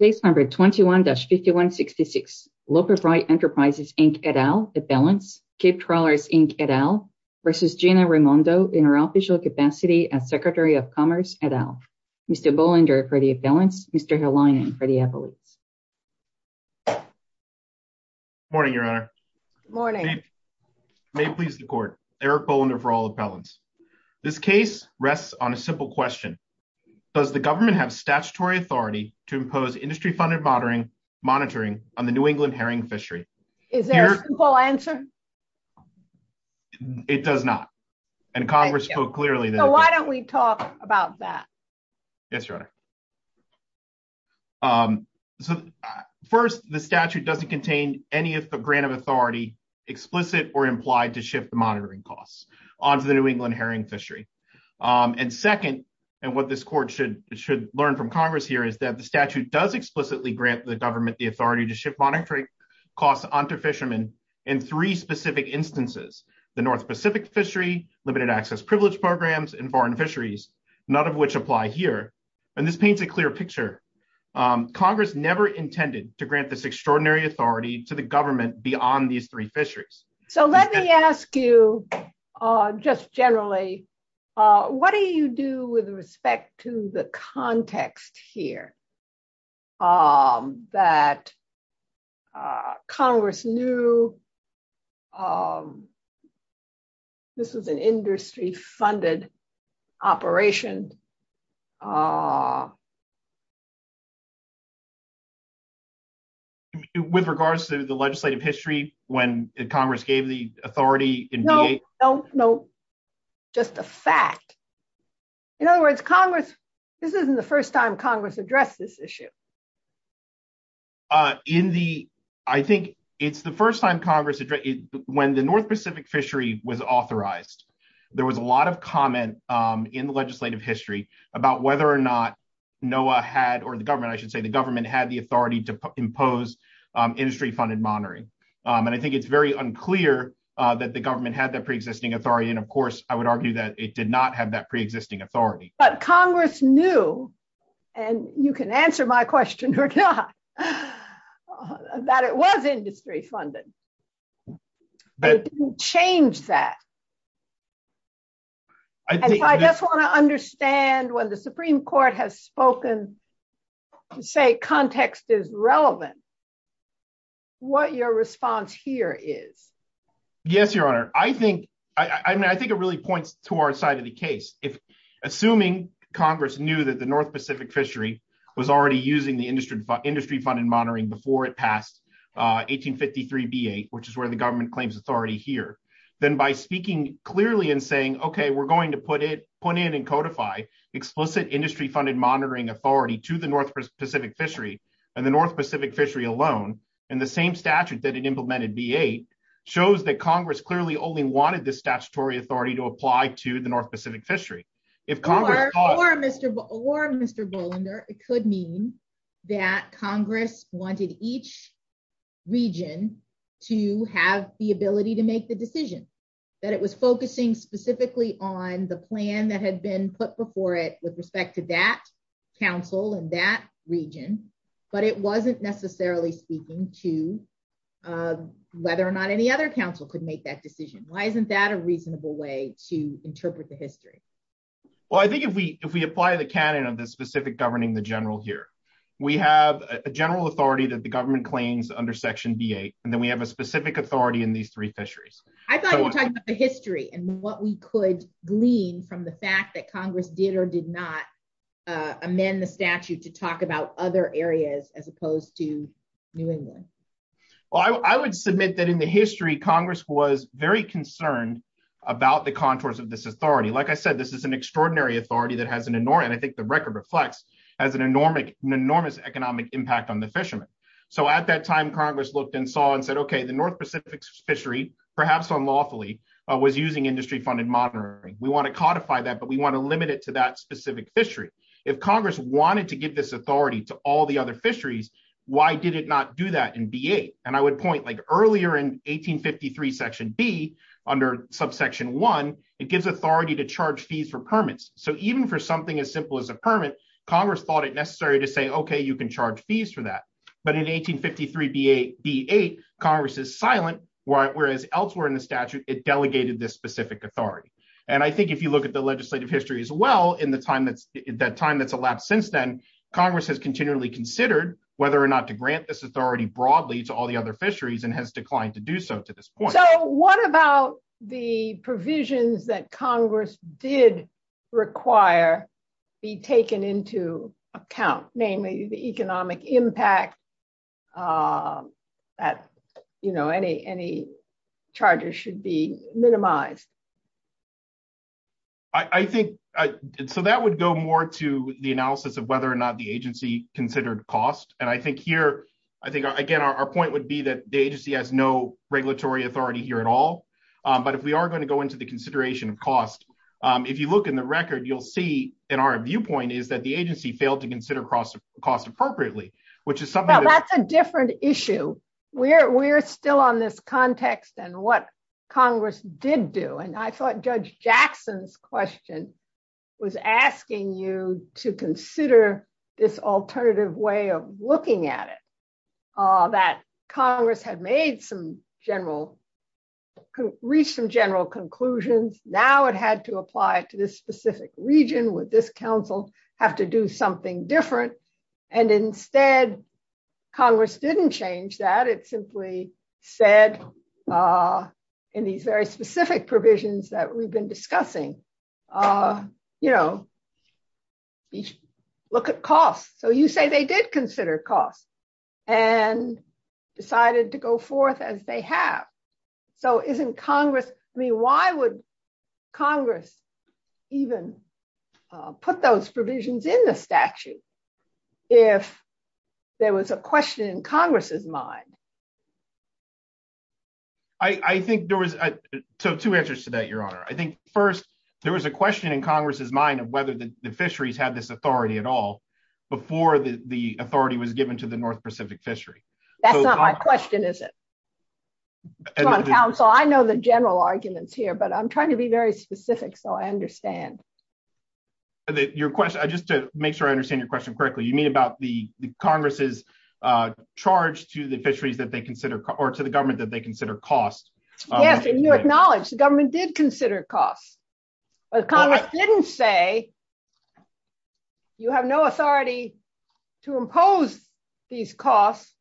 Case number 21-5166, Loper Bright Enterprises, Inc, et al. Appellants, Cape Trawlers, Inc, et al. versus Gina Raimondo in her official capacity as Secretary of Commerce, et al. Mr. Bolander for the appellants, Mr. Herlion for the appellants. Good morning, Your Honor. Good morning. May it please the Court. Eric Bolander for all appellants. This case rests on a simple question. Does the government have statutory authority to impose industry-funded monitoring on the New England herring fishery? Is there a simple answer? It does not. And Congress spoke clearly. So why don't we talk about that? Yes, Your Honor. So first, the statute doesn't contain any grant of authority explicit or implied to shift the this Court should learn from Congress here is that the statute does explicitly grant the government the authority to shift monitoring costs onto fishermen in three specific instances, the North Pacific fishery, limited access privilege programs, and foreign fisheries, none of which apply here. And this paints a clear picture. Congress never intended to grant this extraordinary authority to the government beyond these three fisheries. So let me ask you, just generally, what do you do with respect to the context here that Congress knew this was an industry-funded operation? Ah, with regards to the legislative history, when Congress gave the authority? No, no, just a fact. In other words, Congress, this isn't the first time Congress addressed this issue. In the, I think it's the first time Congress when the North Pacific fishery was authorized. There was a lot of comment in the legislative history about whether or not NOAA had or the government, I should say the government had the authority to impose industry-funded monitoring. And I think it's very unclear that the government had that pre-existing authority. And of course, I would argue that it did not have that pre-existing authority. But Congress knew, and you can answer my question or not, that it was industry-funded. But it didn't change that. And I just want to understand when the Supreme Court has spoken to say context is relevant, what your response here is. Yes, Your Honor. I think, I mean, I think it really points to our side of the case. If assuming Congress knew that the North Pacific fishery was already using the industry-funded monitoring before it passed 1853 B-8, which is where the government claims authority here. Then by speaking clearly and saying, okay, we're going to put in and codify explicit industry-funded monitoring authority to the North Pacific fishery and the North Pacific fishery alone. And the same statute that it implemented B-8 shows that Congress clearly only wanted this statutory authority to apply to the North Pacific fishery. Or Mr. Bolander, it could mean that Congress wanted each region to have the ability to make the decision. That it was focusing specifically on the plan that had been put before it with respect to that council and that region. But it wasn't necessarily speaking to whether or not any other council could make that decision. Why isn't that a reasonable way to interpret the history? Well, I think if we, if we apply the canon of the specific governing the general here, we have a general authority that the government claims under section B-8, and then we have a specific authority in these three fisheries. I thought you were talking about the history and what we could glean from the fact that Congress did or did not amend the statute to talk about other areas as opposed to New England. Well, I would submit that in the history, Congress was very concerned about the contours of this authority. Like I said, this is an extraordinary authority that has an enormous, and I think the record reflects, has an enormous economic impact on the fishermen. So at that time, Congress looked and saw and said, okay, the North Pacific fishery, perhaps unlawfully, was using industry funded monitoring. We want to codify that, but we want to limit it to that specific fishery. If Congress wanted to give this authority to all the other fisheries, why did it not do that in B-8? And I would point, earlier in 1853 section B, under subsection one, it gives authority to charge fees for permits. So even for something as simple as a permit, Congress thought it necessary to say, okay, you can charge fees for that. But in 1853 B-8, Congress is silent, whereas elsewhere in the statute, it delegated this specific authority. And I think if you look at the legislative history as well, in the time that's elapsed since then, Congress has continually considered whether or grant this authority broadly to all the other fisheries and has declined to do so to this point. So what about the provisions that Congress did require be taken into account? Namely, the economic impact that any charges should be minimized. I think, so that would go more to the analysis of whether or not the agency considered cost. And I think, again, our point would be that the agency has no regulatory authority here at all. But if we are going to go into the consideration of cost, if you look in the record, you'll see in our viewpoint is that the agency failed to consider cost appropriately, which is something- Well, that's a different issue. We're still on this context and what Congress did do. And I think, again, I'm just asking you to consider this alternative way of looking at it, that Congress had made some general, reached some general conclusions. Now it had to apply it to this specific region, would this council have to do something different? And instead, Congress didn't change that. It simply said, in these very specific provisions that we've discussing, look at cost. So you say they did consider cost and decided to go forth as they have. So isn't Congress, I mean, why would Congress even put those provisions in the statute if there was a question in Congress's mind? I think there was, so two answers to that, Your Honor. I think first, there was a question in Congress's mind of whether the fisheries had this authority at all, before the authority was given to the North Pacific fishery. That's not my question, is it? Council, I know the general arguments here, but I'm trying to be very specific, so I understand. Your question, just to make sure I understand your question correctly, you mean about the Congress's charge to the fisheries that they consider, or to the government that they consider cost? Yes, and you acknowledge the government did consider cost. But Congress didn't say you have no authority to impose these costs,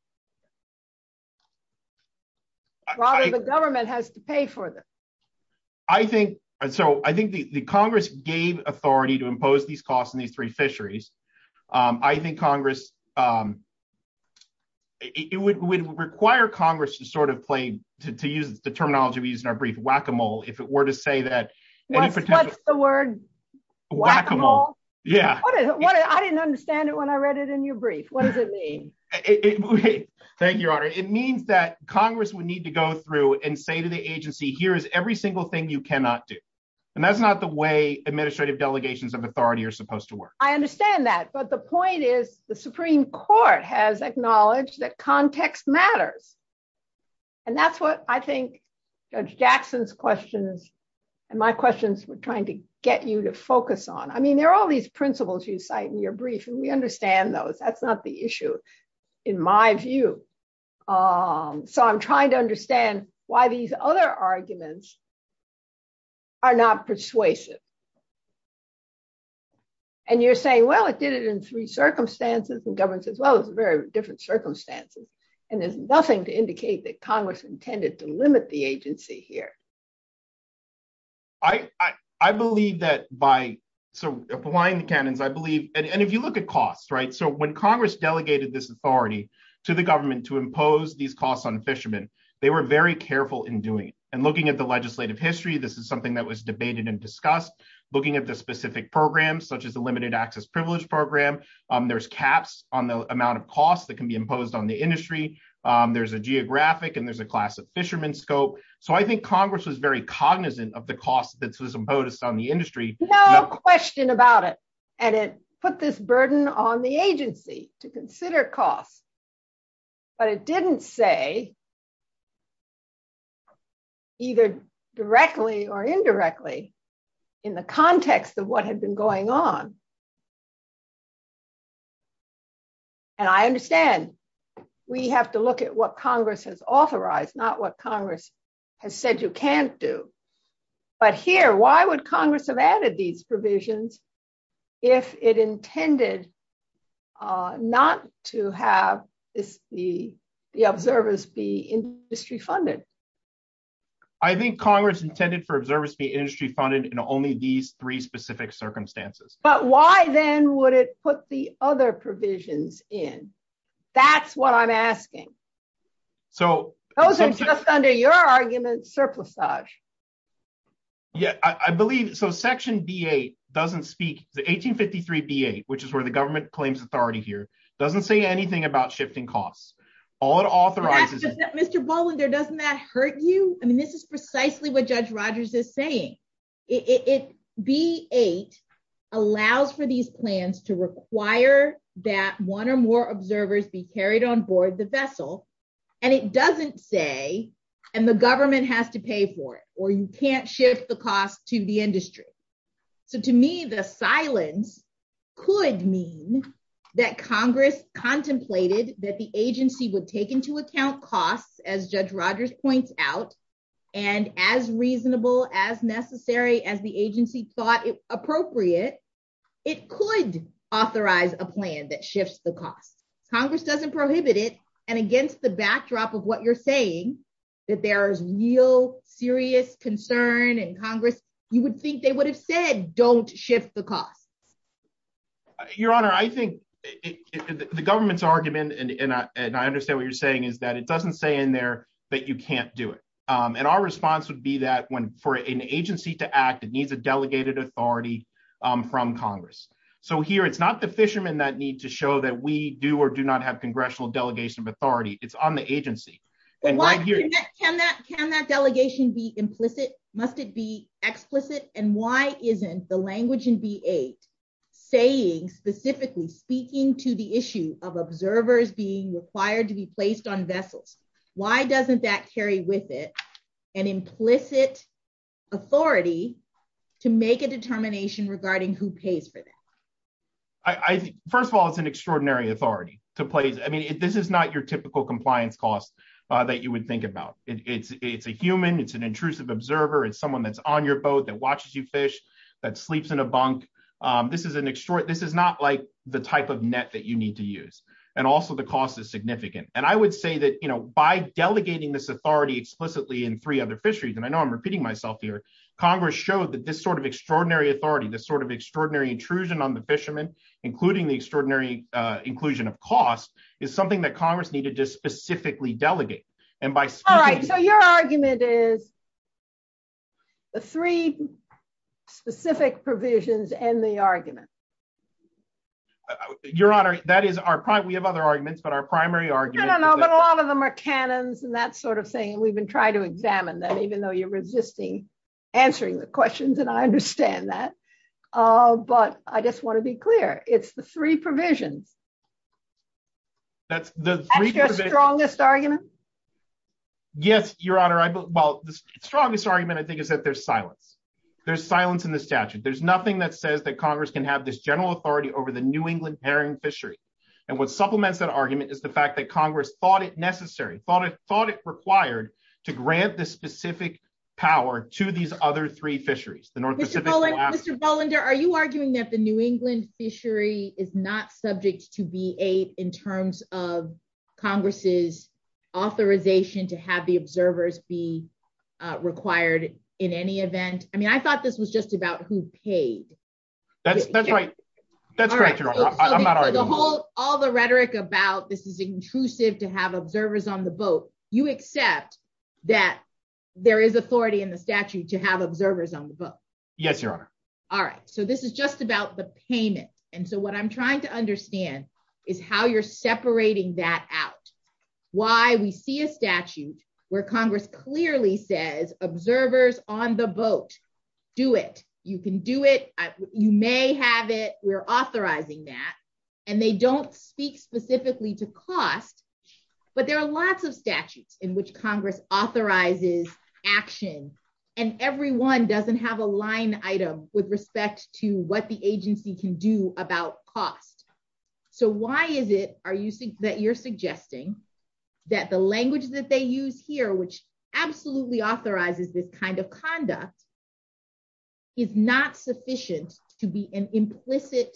rather the government has to pay for them. I think, and so I think the Congress gave authority to impose these costs in these three fisheries. I think Congress, it would require Congress to sort of play, to use the terminology we use in our brief, whack-a-mole, if it were to say that. What's the word? Whack-a-mole. Yeah. I didn't understand it when I read it in your brief. What does it mean? Thank you, Your Honor. It means that Congress would need to go through and say to the agency, here is every single thing you cannot do. And that's not the way administrative delegations of authority are supposed to work. I understand that, but the point is the Supreme Court has acknowledged that context matters. And that's what I think Judge Jackson's questions and my questions were trying to get you to focus on. I mean, there are all these principles you cite in your brief, and we understand those. That's not the issue, in my view. So I'm trying to understand why these other arguments are not persuasive. And you're saying, well, it did it in three circumstances, and government says, well, it's very different circumstances. And there's nothing to indicate that Congress intended to limit the agency here. I believe that by applying the canons, I believe, and if you look at costs, right? So when Congress delegated this authority to the government to impose these costs on fishermen, they were very careful in doing it. And looking at the legislative history, this is something that was debated and discussed. Looking at the specific programs, such as the limited access privilege program, there's caps on the amount of costs that can be imposed on the industry. There's a geographic, and there's a class of fishermen scope. So I think Congress was very cognizant of the cost that was imposed on the industry. No question about it. And it put this burden on the agency to consider costs. But it didn't say, either directly or indirectly, in the context of what had been going on. And I understand, we have to look at what Congress has authorized, not what Congress has said you can't do. But here, why would Congress have added these provisions, if it intended not to have the observers be industry funded? I think Congress intended for observers to be industry funded in only these three specific circumstances. But why then would it put the other provisions in? That's what I'm asking. So those are just under your argument, surplusage. Yeah, I believe so. Section B-8 doesn't speak, the 1853 B-8, which is where the government claims authority here, doesn't say anything about shifting costs. All it authorizes- Mr. Bolander, doesn't that hurt you? I mean, this is precisely what Judge Rogers is saying. It, B-8 allows for these plans to require that one or more observers be carried on board the vessel. And it doesn't say, and the government has to pay for it, or you can't shift the cost to the industry. So to me, the silence could mean that Congress contemplated that the agency would take into account costs, as Judge Rogers points out, and as reasonable, as necessary, as the agency thought appropriate, it could authorize a plan that shifts the costs. Congress doesn't prohibit it. And against the backdrop of what you're saying, that there is real serious concern in Congress, you would think they would have said, don't shift the costs. Your Honor, I think the government's argument, and I understand what you're saying, is that it doesn't say in there that you can't do it. And our response would be that when for an agency to act, it needs a delegated authority from Congress. So here, it's not the fishermen that need to show that we do or do not have congressional delegation of authority. It's on the agency. Can that delegation be implicit? Must it be explicit? And why isn't the language in B-8 saying specifically speaking to the issue of observers being required to be placed on vessels? Why doesn't that carry with it an implicit authority to make a determination regarding who pays for that? First of all, it's an extraordinary authority to place. I mean, this is not your typical compliance costs that you would think about. It's a human, it's an intrusive observer, it's someone that's on your boat that watches you fish, that sleeps in a bunk. This is not like the type of net that you need to use. And also, the cost is significant. And I would say that by delegating this authority explicitly in three other fisheries, and I know I'm repeating myself here, Congress showed that this sort of extraordinary authority, this sort of extraordinary intrusion on the fishermen, including the extraordinary inclusion of cost, is something that Congress needed to specifically delegate. And by speaking- So your argument is the three specific provisions and the argument. Your Honor, that is our point. We have other arguments, but our primary argument- I don't know, but a lot of them are canons and that sort of thing. And we've been trying to examine that even though you're resisting answering the questions, and I understand that. But I just want to be clear, it's the three provisions. That's the three provisions- That's your strongest argument? Yes, Your Honor. Well, the strongest argument, I think, is that there's silence. There's silence in the statute. There's nothing that says that Congress can have this general authority over the New England herring fishery. And what supplements that argument is the fact that Congress thought it necessary, thought it required, to grant this specific power to these other three fisheries, the North Pacific- Mr. Bolander, are you arguing that the New England fishery is not subject to VA in terms of authorization to have the observers be required in any event? I mean, I thought this was just about who paid. That's right. That's correct, Your Honor. I'm not arguing that. All the rhetoric about this is intrusive to have observers on the boat, you accept that there is authority in the statute to have observers on the boat? Yes, Your Honor. All right. So this is just about the payment. And so what I'm trying to understand is how you're separating that out. Why we see a statute where Congress clearly says, observers on the boat, do it. You can do it. You may have it. We're authorizing that. And they don't speak specifically to cost. But there are lots of statutes in which Congress authorizes action. And every one doesn't have a line item with respect to what the agency can do about cost. So why is it that you're suggesting that the language that they use here, which absolutely authorizes this kind of conduct, is not sufficient to be an implicit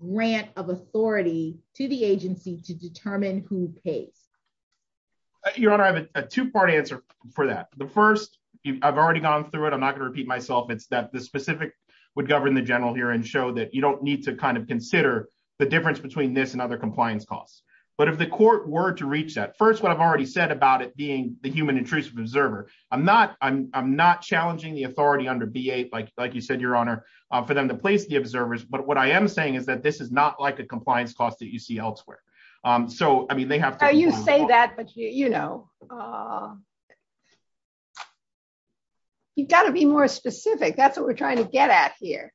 grant of authority to the agency to determine who pays? Your Honor, I have a two-part answer for that. The first, I've already gone through it. I'm not going to repeat myself. It's that the specific would govern the general here and that you don't need to consider the difference between this and other compliance costs. But if the court were to reach that, first, what I've already said about it being the human intrusive observer, I'm not challenging the authority under B-8, like you said, Your Honor, for them to place the observers. But what I am saying is that this is not like a compliance cost that you see elsewhere. So I mean, they have to- No, you say that, but you've got to be more specific. That's what we're trying to get at here.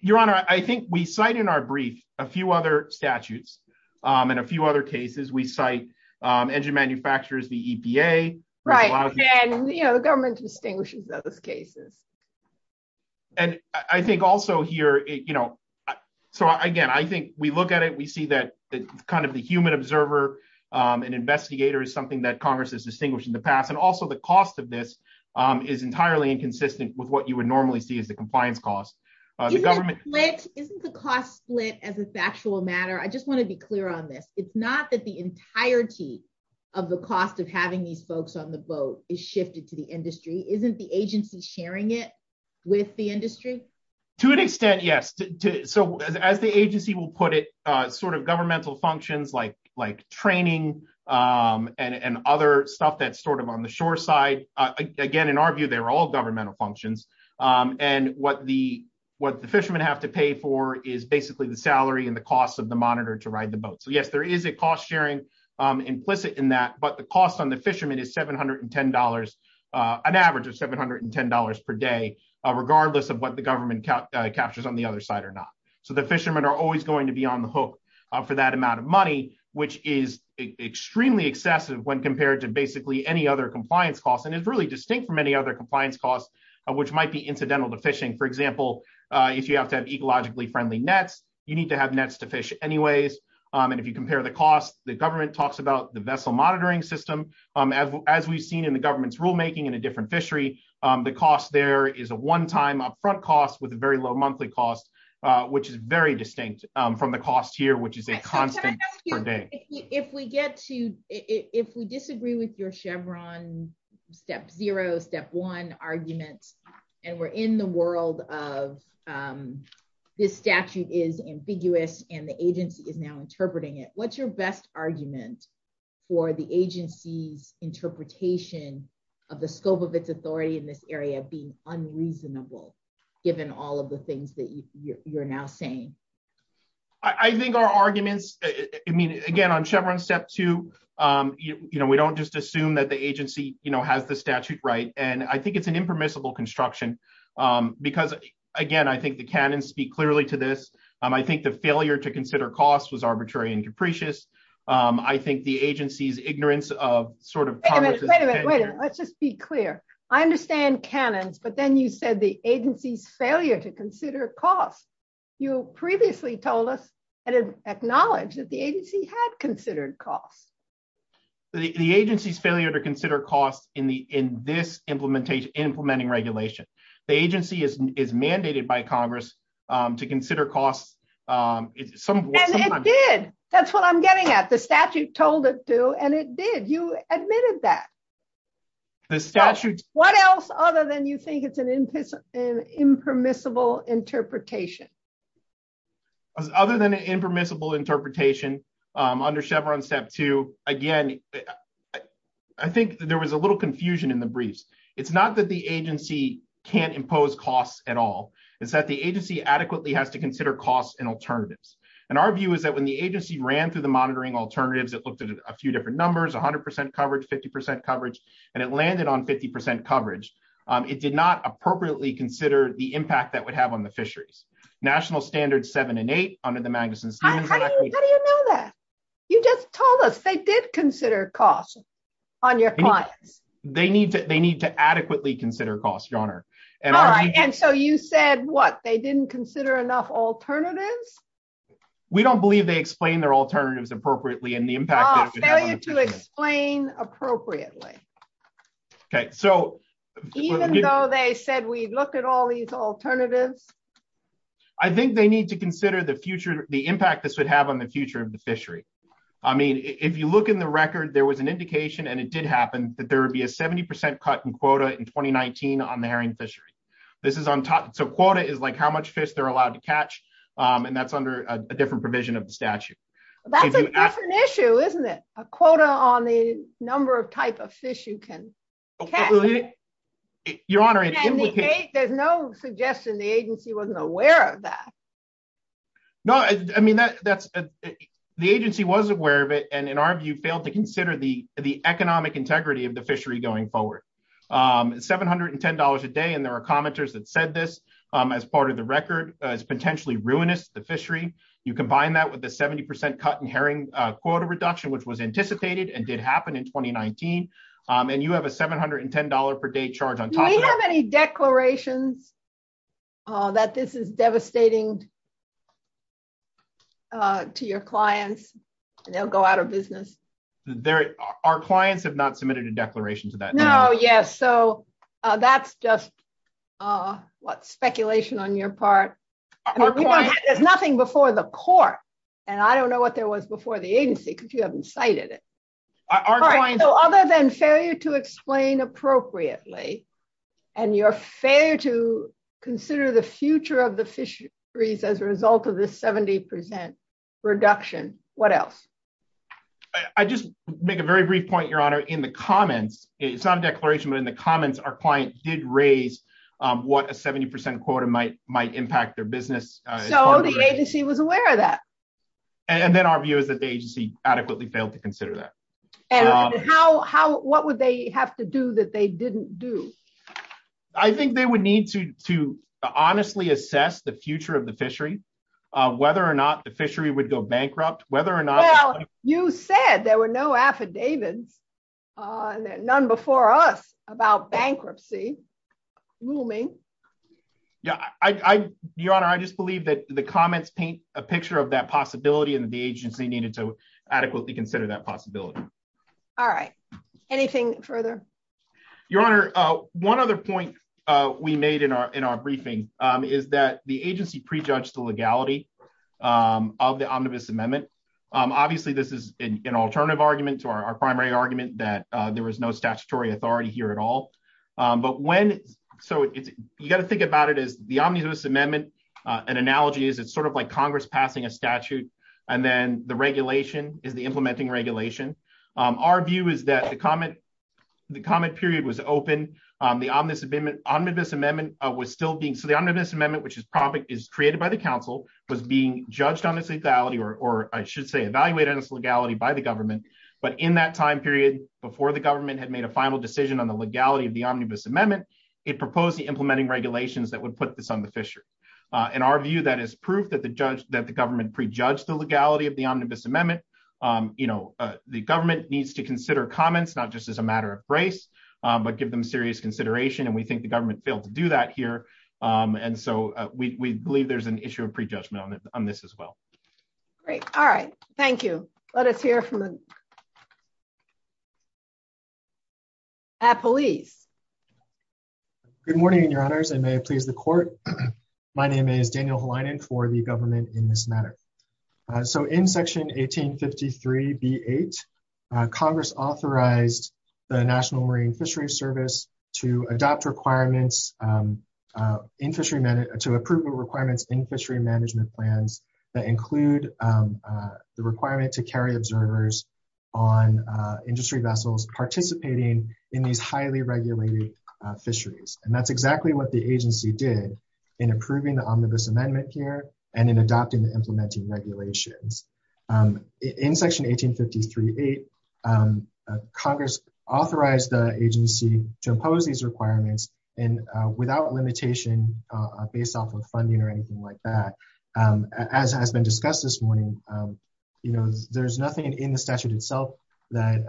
Your Honor, I think we cite in our brief a few other statutes and a few other cases. We cite engine manufacturers, the EPA- Right, and the government distinguishes those cases. And I think also here, so again, I think we look at it, we see that kind of the human observer and investigator is something that Congress has distinguished in the past. And also the cost of this is entirely inconsistent with what you would normally see as the compliance cost. The government- Isn't the cost split as a factual matter? I just want to be clear on this. It's not that the entirety of the cost of having these folks on the boat is shifted to the industry. Isn't the agency sharing it with the industry? To an extent, yes. So as the agency will put it, sort of governmental functions like training and other stuff that's sort of on the shore side, again, in our view, they're all governmental functions. And what the fishermen have to pay for is basically the salary and the cost of the monitor to ride the boat. So yes, there is a cost sharing implicit in that, but the cost on the fishermen is $710, an average of $710 per day, regardless of what the government captures on the other side or not. So the fishermen are always going to be on the hook for that amount of money, which is extremely excessive when compared to any other compliance costs. And it's really distinct from any other compliance costs, which might be incidental to fishing. For example, if you have to have ecologically friendly nets, you need to have nets to fish anyways. And if you compare the cost, the government talks about the vessel monitoring system. As we've seen in the government's rulemaking in a different fishery, the cost there is a one-time upfront cost with a very low monthly cost, which is very distinct from the cost here, which is a constant per day. If we disagree with your Chevron step zero, step one arguments, and we're in the world of this statute is ambiguous and the agency is now interpreting it, what's your best argument for the agency's interpretation of the scope of its authority in this area being unreasonable, given all of the things that you're now saying? I think our arguments, I mean, again, on Chevron step two, we don't just assume that the agency has the statute right. And I think it's an impermissible construction because again, I think the canons speak clearly to this. I think the failure to consider costs was arbitrary and capricious. I think the agency's ignorance of sort of- Wait a minute, wait a minute, wait a minute. Let's just be clear. I understand canons, but then you said the agency's failure to consider costs. You previously told us and acknowledged that the agency had considered costs. The agency's failure to consider costs in this implementing regulation. The agency is mandated by Congress to consider costs. And it did. That's what I'm getting at. The statute told it to, and it did. You admitted that. The statute- What else other than you think it's an impermissible interpretation? Other than an impermissible interpretation under Chevron step two, again, I think there was a little confusion in the briefs. It's not that the agency can't impose costs at all. It's that the agency adequately has to consider costs and alternatives. And our view is that when the agency ran through the monitoring alternatives, it looked at a few different numbers, 100% coverage, 50% coverage, and it landed on 50% coverage. It did not appropriately consider the impact that would have on the fisheries. National standards seven and eight under the Magnuson- How do you know that? You just told us they did consider costs on your clients. They need to adequately consider costs, Your Honor. All right. And so you said, what, they didn't consider enough alternatives? We don't believe they explained their alternatives appropriately and the impact- Oh, failure to explain appropriately. Okay. So- Even though they said we look at all these alternatives? I think they need to consider the future, the impact this would have on the future of the fishery. I mean, if you look in the record, there was an indication and it did happen that there would be a 70% cut in quota in 2019 on the herring fishery. This is on top. So quota is like how much fish they're allowed to catch. And that's under a different provision of the statute. That's a different issue, isn't it? A quota on the number of type of fish you can catch. Your Honor, it's implicated- There's no suggestion the agency wasn't aware of that. No, I mean, the agency was aware of it, and in our view, failed to consider the economic integrity of the fishery going forward. $710 a day, and there are commenters that said this as part of the record is potentially ruinous to the fishery. You combine that with the 70% cut in herring quota reduction, which was anticipated and did happen in 2019, and you have a $710 per day charge on top of that. Do we have any declarations that this is devastating to your clients and they'll go out of business? Our clients have not submitted a declaration to that. Yes, so that's just speculation on your part. There's nothing before the court, and I don't know what there was before the agency because you haven't cited it. Other than failure to explain appropriately and your failure to consider the future of the fisheries as a result of this 70% reduction, what else? I just make a very brief point, Your Honor, in the comments. It's not a declaration, but in the comments, our client did raise what a 70% quota might impact their business. So the agency was aware of that? Then our view is that the agency adequately failed to consider that. What would they have to do that they didn't do? I think they would need to honestly assess the future of the fishery, whether or not the fishery would go bankrupt, whether or not- Well, you said there were no affidavits, none before us, about bankruptcy looming. Your Honor, I just believe that the comments paint a picture of that possibility and that the agency needed to adequately consider that possibility. All right. Anything further? Your Honor, one other point we made in our briefing is that the agency pre-judged the omnibus amendment. Obviously, this is an alternative argument to our primary argument that there was no statutory authority here at all. You got to think about it as the omnibus amendment, an analogy is it's sort of like Congress passing a statute, and then the regulation is the implementing regulation. Our view is that the comment period was open, the omnibus amendment was still being- So the I should say evaluated as legality by the government, but in that time period, before the government had made a final decision on the legality of the omnibus amendment, it proposed the implementing regulations that would put this on the fishery. In our view, that is proof that the government pre-judged the legality of the omnibus amendment. The government needs to consider comments, not just as a matter of grace, but give them serious consideration, and we think the government failed to do that here. We believe there's an issue of pre-judgment on this as well. Great. All right. Thank you. Let us hear from the police. Good morning, your honors, and may it please the court. My name is Daniel Helinen for the government in this matter. So in section 1853 B8, Congress authorized the National Marine Fishery Service to adopt requirements in fishery- to approve the requirements in fishery management plans that include the requirement to carry observers on industry vessels participating in these highly regulated fisheries, and that's exactly what the agency did in approving the omnibus amendment here and in adopting the implementing regulations. In section 1853 B8, Congress authorized the agency to impose these requirements, and without limitation, based off of funding or anything like that, as has been discussed this morning, you know, there's nothing in the statute itself that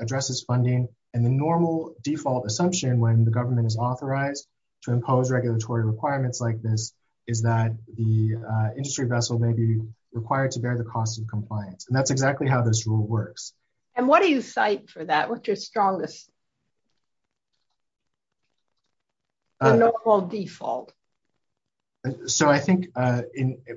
addresses funding, and the normal default assumption when the government is authorized to impose regulatory requirements like this is that the industry vessel may be required to bear the cost of compliance, and that's exactly how this rule works. And what do you cite for that? What's your strongest normal default? So I think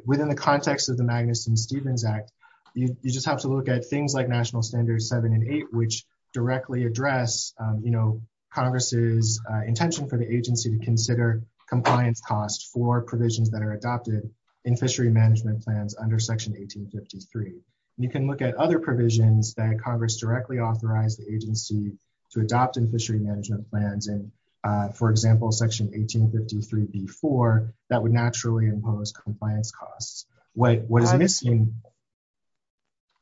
within the context of the Magnuson-Stevens Act, you just have to look at things like National Standards 7 and 8, which directly address, you know, Congress's intention for the agency to consider compliance costs for provisions that are adopted in fishery management plans under section 1853. You can look at other provisions that Congress directly authorized the agency to adopt in fishery management plans, and for example, section 1853 B4, that would naturally impose compliance costs. What is missing...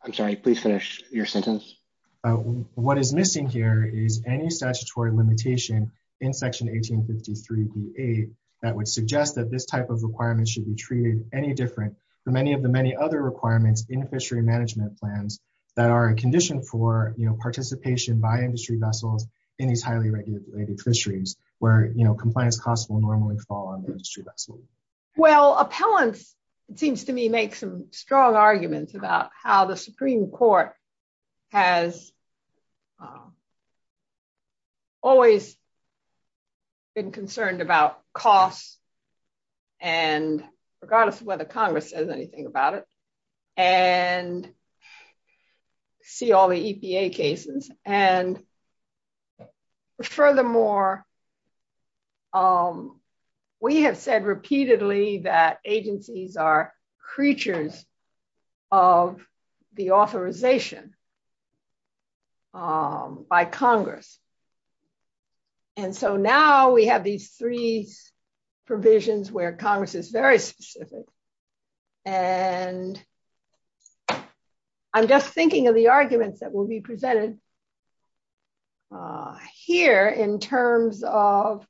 I'm sorry, please finish your sentence. What is missing here is any statutory limitation in section 1853 B8 that would suggest that this type of requirement should be treated any different from any of the many other requirements in the fishery management plans that are a condition for, you know, participation by industry vessels in these highly regulated fisheries where, you know, compliance costs will normally fall on the industry vessel. Well, appellants, it seems to me, make some strong arguments about how the and regardless of whether Congress says anything about it, and see all the EPA cases, and furthermore, we have said repeatedly that agencies are creatures of the authorization by Congress. And so now we have these three provisions where Congress is very specific, and I'm just thinking of the arguments that will be presented here in terms of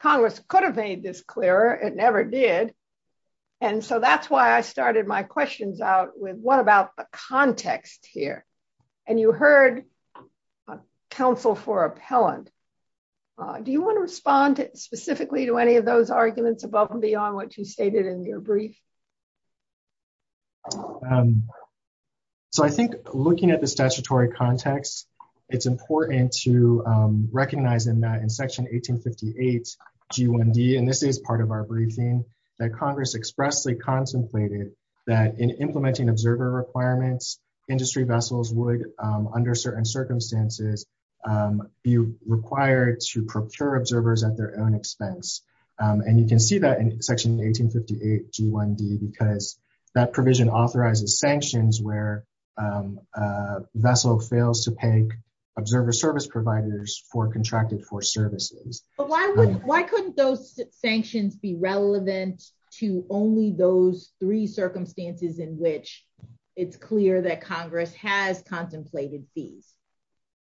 Congress could have made this clearer, it never did, and so that's why I started my questions out with what about the context here? And you heard counsel for appellant. Do you want to respond specifically to any of those arguments above and beyond what you stated in your brief? So I think looking at the statutory context, it's important to recognize in that in section 1858 G1D, and this is part of our briefing, that Congress expressly contemplated that in implementing observer requirements, industry vessels would, under certain circumstances, be required to procure observers at their own expense. And you can see that in section 1858 G1D because that provision authorizes sanctions where a vessel fails to peg observer service for contracted for services. But why couldn't those sanctions be relevant to only those three circumstances in which it's clear that Congress has contemplated fees?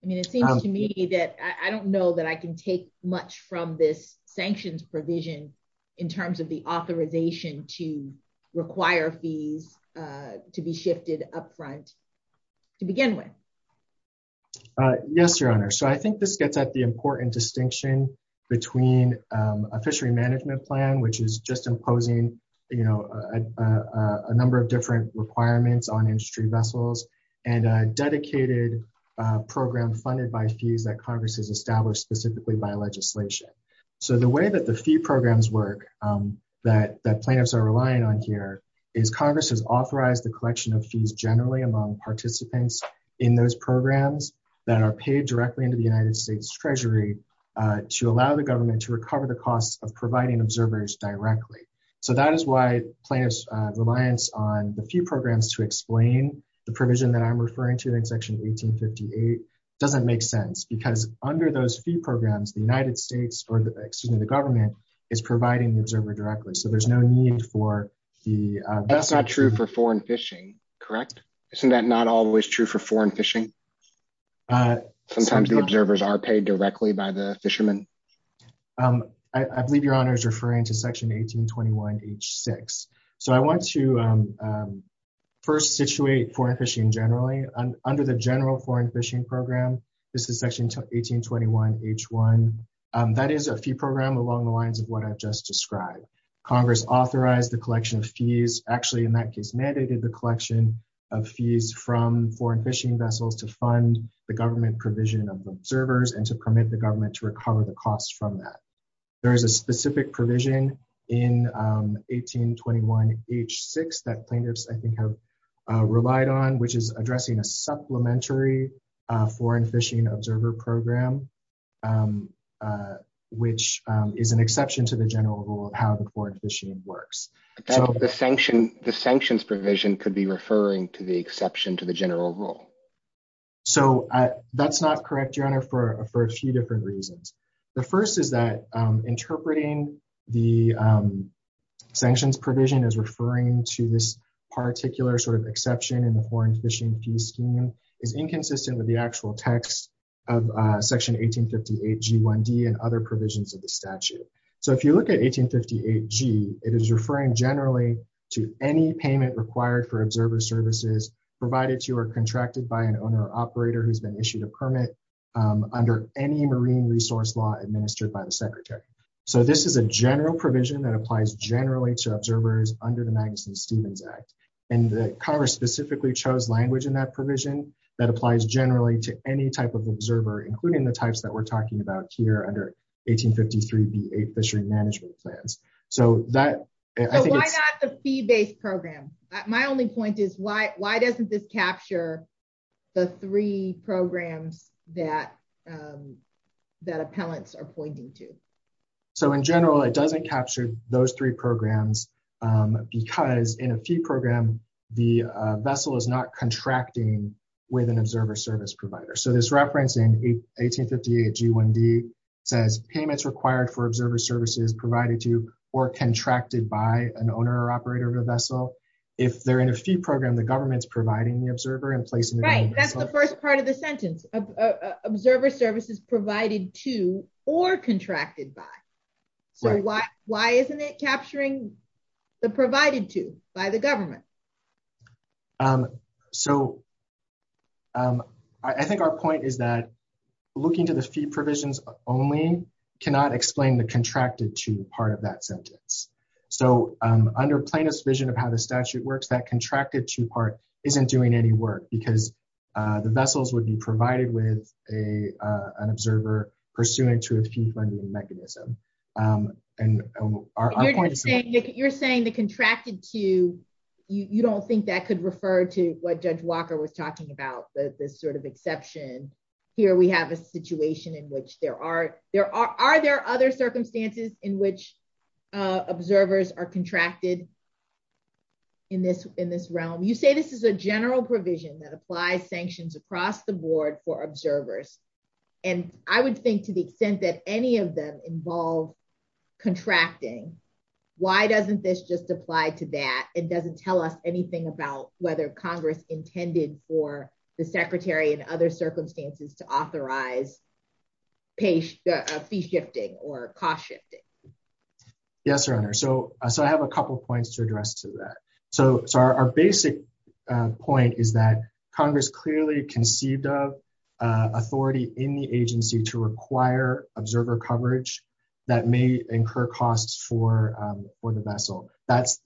I mean, it seems to me that I don't know that I can take much from this sanctions provision in terms of the authorization to require fees to be shifted up front to begin with. Yes, Your Honor. So I think this gets at the important distinction between a fishery management plan, which is just imposing, you know, a number of different requirements on industry vessels, and a dedicated program funded by fees that Congress has established specifically by legislation. So the way that the fee programs work that plaintiffs are relying on here is Congress has authorized the collection of fees generally among participants in those programs that are paid directly into the United States Treasury to allow the government to recover the costs of providing observers directly. So that is why plaintiffs' reliance on the fee programs to explain the provision that I'm referring to in section 1858 doesn't make sense because under those fee programs, the United States Treasury is providing the observer directly. So there's no need for the... That's not true for foreign fishing, correct? Isn't that not always true for foreign fishing? Sometimes the observers are paid directly by the fishermen. I believe Your Honor is referring to section 1821 H6. So I want to first situate foreign fishing generally. Under the general foreign fishing program, this is section 1821 H1. That is a fee program along the lines of what I've just described. Congress authorized the collection of fees, actually in that case mandated the collection of fees from foreign fishing vessels to fund the government provision of observers and to permit the government to recover the costs from that. There is a specific provision in 1821 H6 that plaintiffs I think have relied on, which is addressing a supplementary foreign fishing observer program, which is an exception to the general rule of how the foreign fishing works. The sanctions provision could be referring to the exception to the general rule. So that's not correct, Your Honor, for a few different reasons. The first is that interpreting the sanctions provision as referring to this particular sort of exception in the foreign text of section 1858 G1D and other provisions of the statute. So if you look at 1858 G, it is referring generally to any payment required for observer services provided to or contracted by an owner or operator who's been issued a permit under any marine resource law administered by the Secretary. So this is a general provision that applies generally to observers under the Magnuson-Stevens Act. And the Congress specifically chose language in that provision that applies generally to any type of observer, including the types that we're talking about here under 1853 B8 fishery management plans. So why not the fee-based program? My only point is why doesn't this capture the three programs that appellants are pointing to? So in general, it doesn't capture those three programs because in a fee program, the vessel is not contracting with an observer service provider. So this reference in 1858 G1D says payments required for observer services provided to or contracted by an owner or operator of a vessel. If they're in a fee program, the government's providing the observer and placing them- Right, that's the first part of the sentence, observer services provided to or contracted by. So why isn't it capturing the provided to by the government? So I think our point is that looking to the fee provisions only cannot explain the contracted to part of that sentence. So under plaintiff's vision of how the statute works, that contracted to part isn't doing any work because the vessels would be provided with an observer pursuant to a fee-funding mechanism. And our point is- You're saying the contracted to, you don't think that could refer to what Judge Walker was talking about, this sort of exception. Here we have a situation in which there are- Are there other circumstances in which observers are contracted in this realm? You say this is a general provision that applies sanctions across the board for observers. And I would think to the extent that any of them involve contracting, why doesn't this just apply to that? It doesn't tell us anything about whether Congress intended for the secretary and other circumstances to authorize fee shifting or cost shifting. Yes, Your Honor. So I have a couple of points to address to that. So our basic point is that Congress clearly conceived of authority in the agency to require observer coverage that may incur costs for the vessel. That's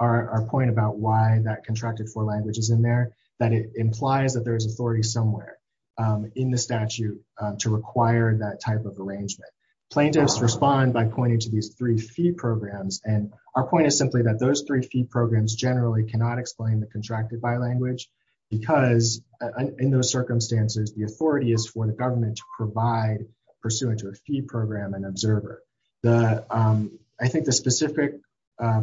our point about why that contracted for language is in there, that it implies that there is authority somewhere in the statute to require that type of arrangement. Plaintiffs respond by pointing to these three fee programs. And our point is simply that those three fee programs generally cannot explain the contracted by language because in those circumstances, the authority is for the government to provide pursuant to a fee program and observer. I think the specific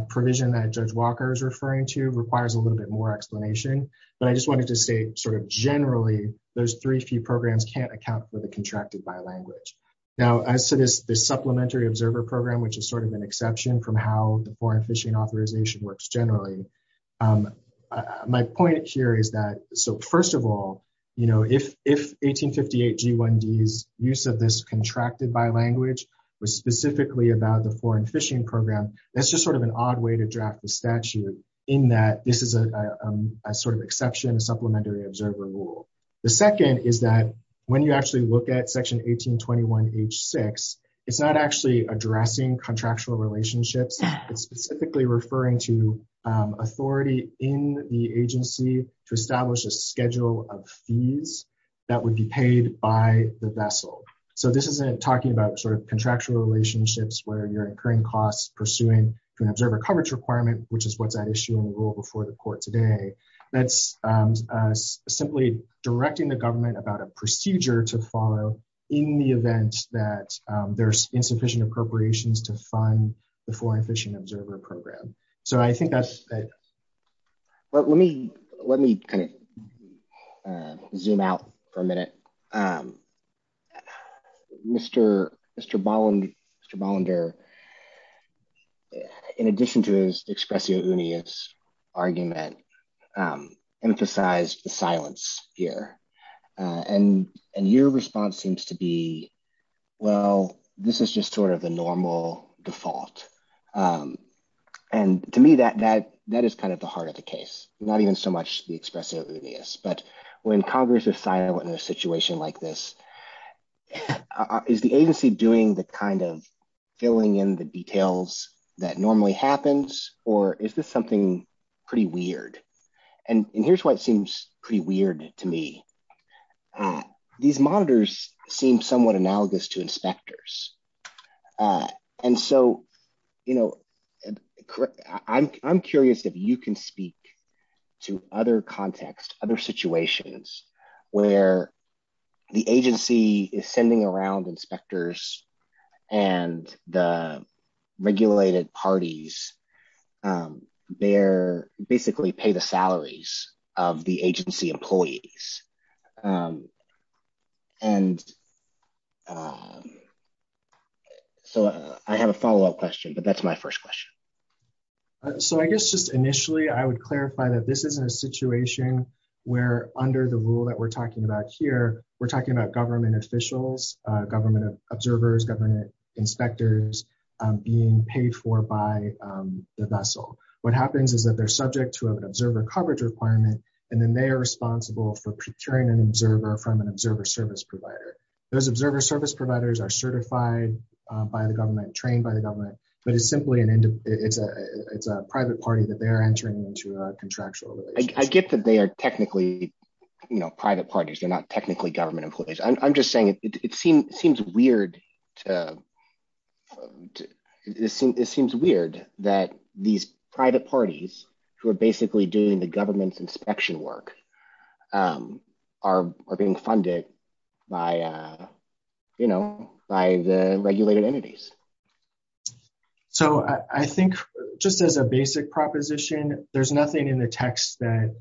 provision that Judge Walker is referring to requires a little bit more explanation, but I just wanted to say sort of generally, those three fee programs can't account for the contracted by language. Now, as to this supplementary observer program, which is sort of an exception from how the foreign fishing authorization works generally, my point here is that, so first of all, if 1858 G1D's contracted by language was specifically about the foreign fishing program, that's just sort of an odd way to draft the statute in that this is a sort of exception, a supplementary observer rule. The second is that when you actually look at section 1821 H6, it's not actually addressing contractual relationships. It's specifically referring to authority in the agency to so this isn't talking about sort of contractual relationships where you're incurring costs pursuing an observer coverage requirement, which is what's at issue in the rule before the court today. That's simply directing the government about a procedure to follow in the event that there's insufficient appropriations to fund the foreign fishing observer program. So I think that's it. Well, let me kind of zoom out for a minute. Mr. Bollender, in addition to his expressio unius argument, emphasized the silence here and your response seems to be, well, this is just sort of a normal default. And to me, that is kind of the heart of the case, not even so much the expressio unius. But when Congress is silent in a situation like this, is the agency doing the kind of filling in the details that normally happens or is this something pretty weird? And here's why it seems pretty weird to me. These monitors seem somewhat analogous to inspectors. And so, you know, I'm curious if you can speak to other contexts, other situations where the agency is sending around inspectors and the regulated parties basically pay the salaries of the agency employees. And so I have a follow-up question, but that's my first question. So I guess just initially, I would clarify that this isn't a situation where under the rule that we're talking about here, we're talking about government officials, government observers, inspectors being paid for by the vessel. What happens is that they're subject to an observer coverage requirement, and then they are responsible for procuring an observer from an observer service provider. Those observer service providers are certified by the government, trained by the government, but it's simply a private party that they're entering into a contractual relationship. I get that they are technically, you know, private parties, not technically government employees. I'm just saying it seems weird that these private parties who are basically doing the government's inspection work are being funded by the regulated entities. So I think just as a basic proposition, there's nothing in the text that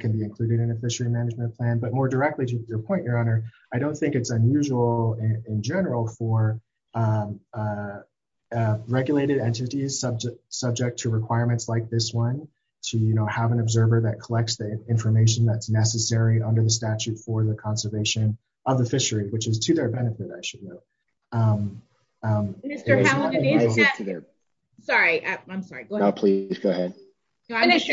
can be included in a fishery management plan, but more directly to your point, Your Honor, I don't think it's unusual in general for regulated entities subject to requirements like this one to, you know, have an observer that collects the information that's necessary under the statute for the conservation of the fishery, which is to their benefit, I should note. Mr. Halligan, sorry, I'm sorry. Please go ahead. Finish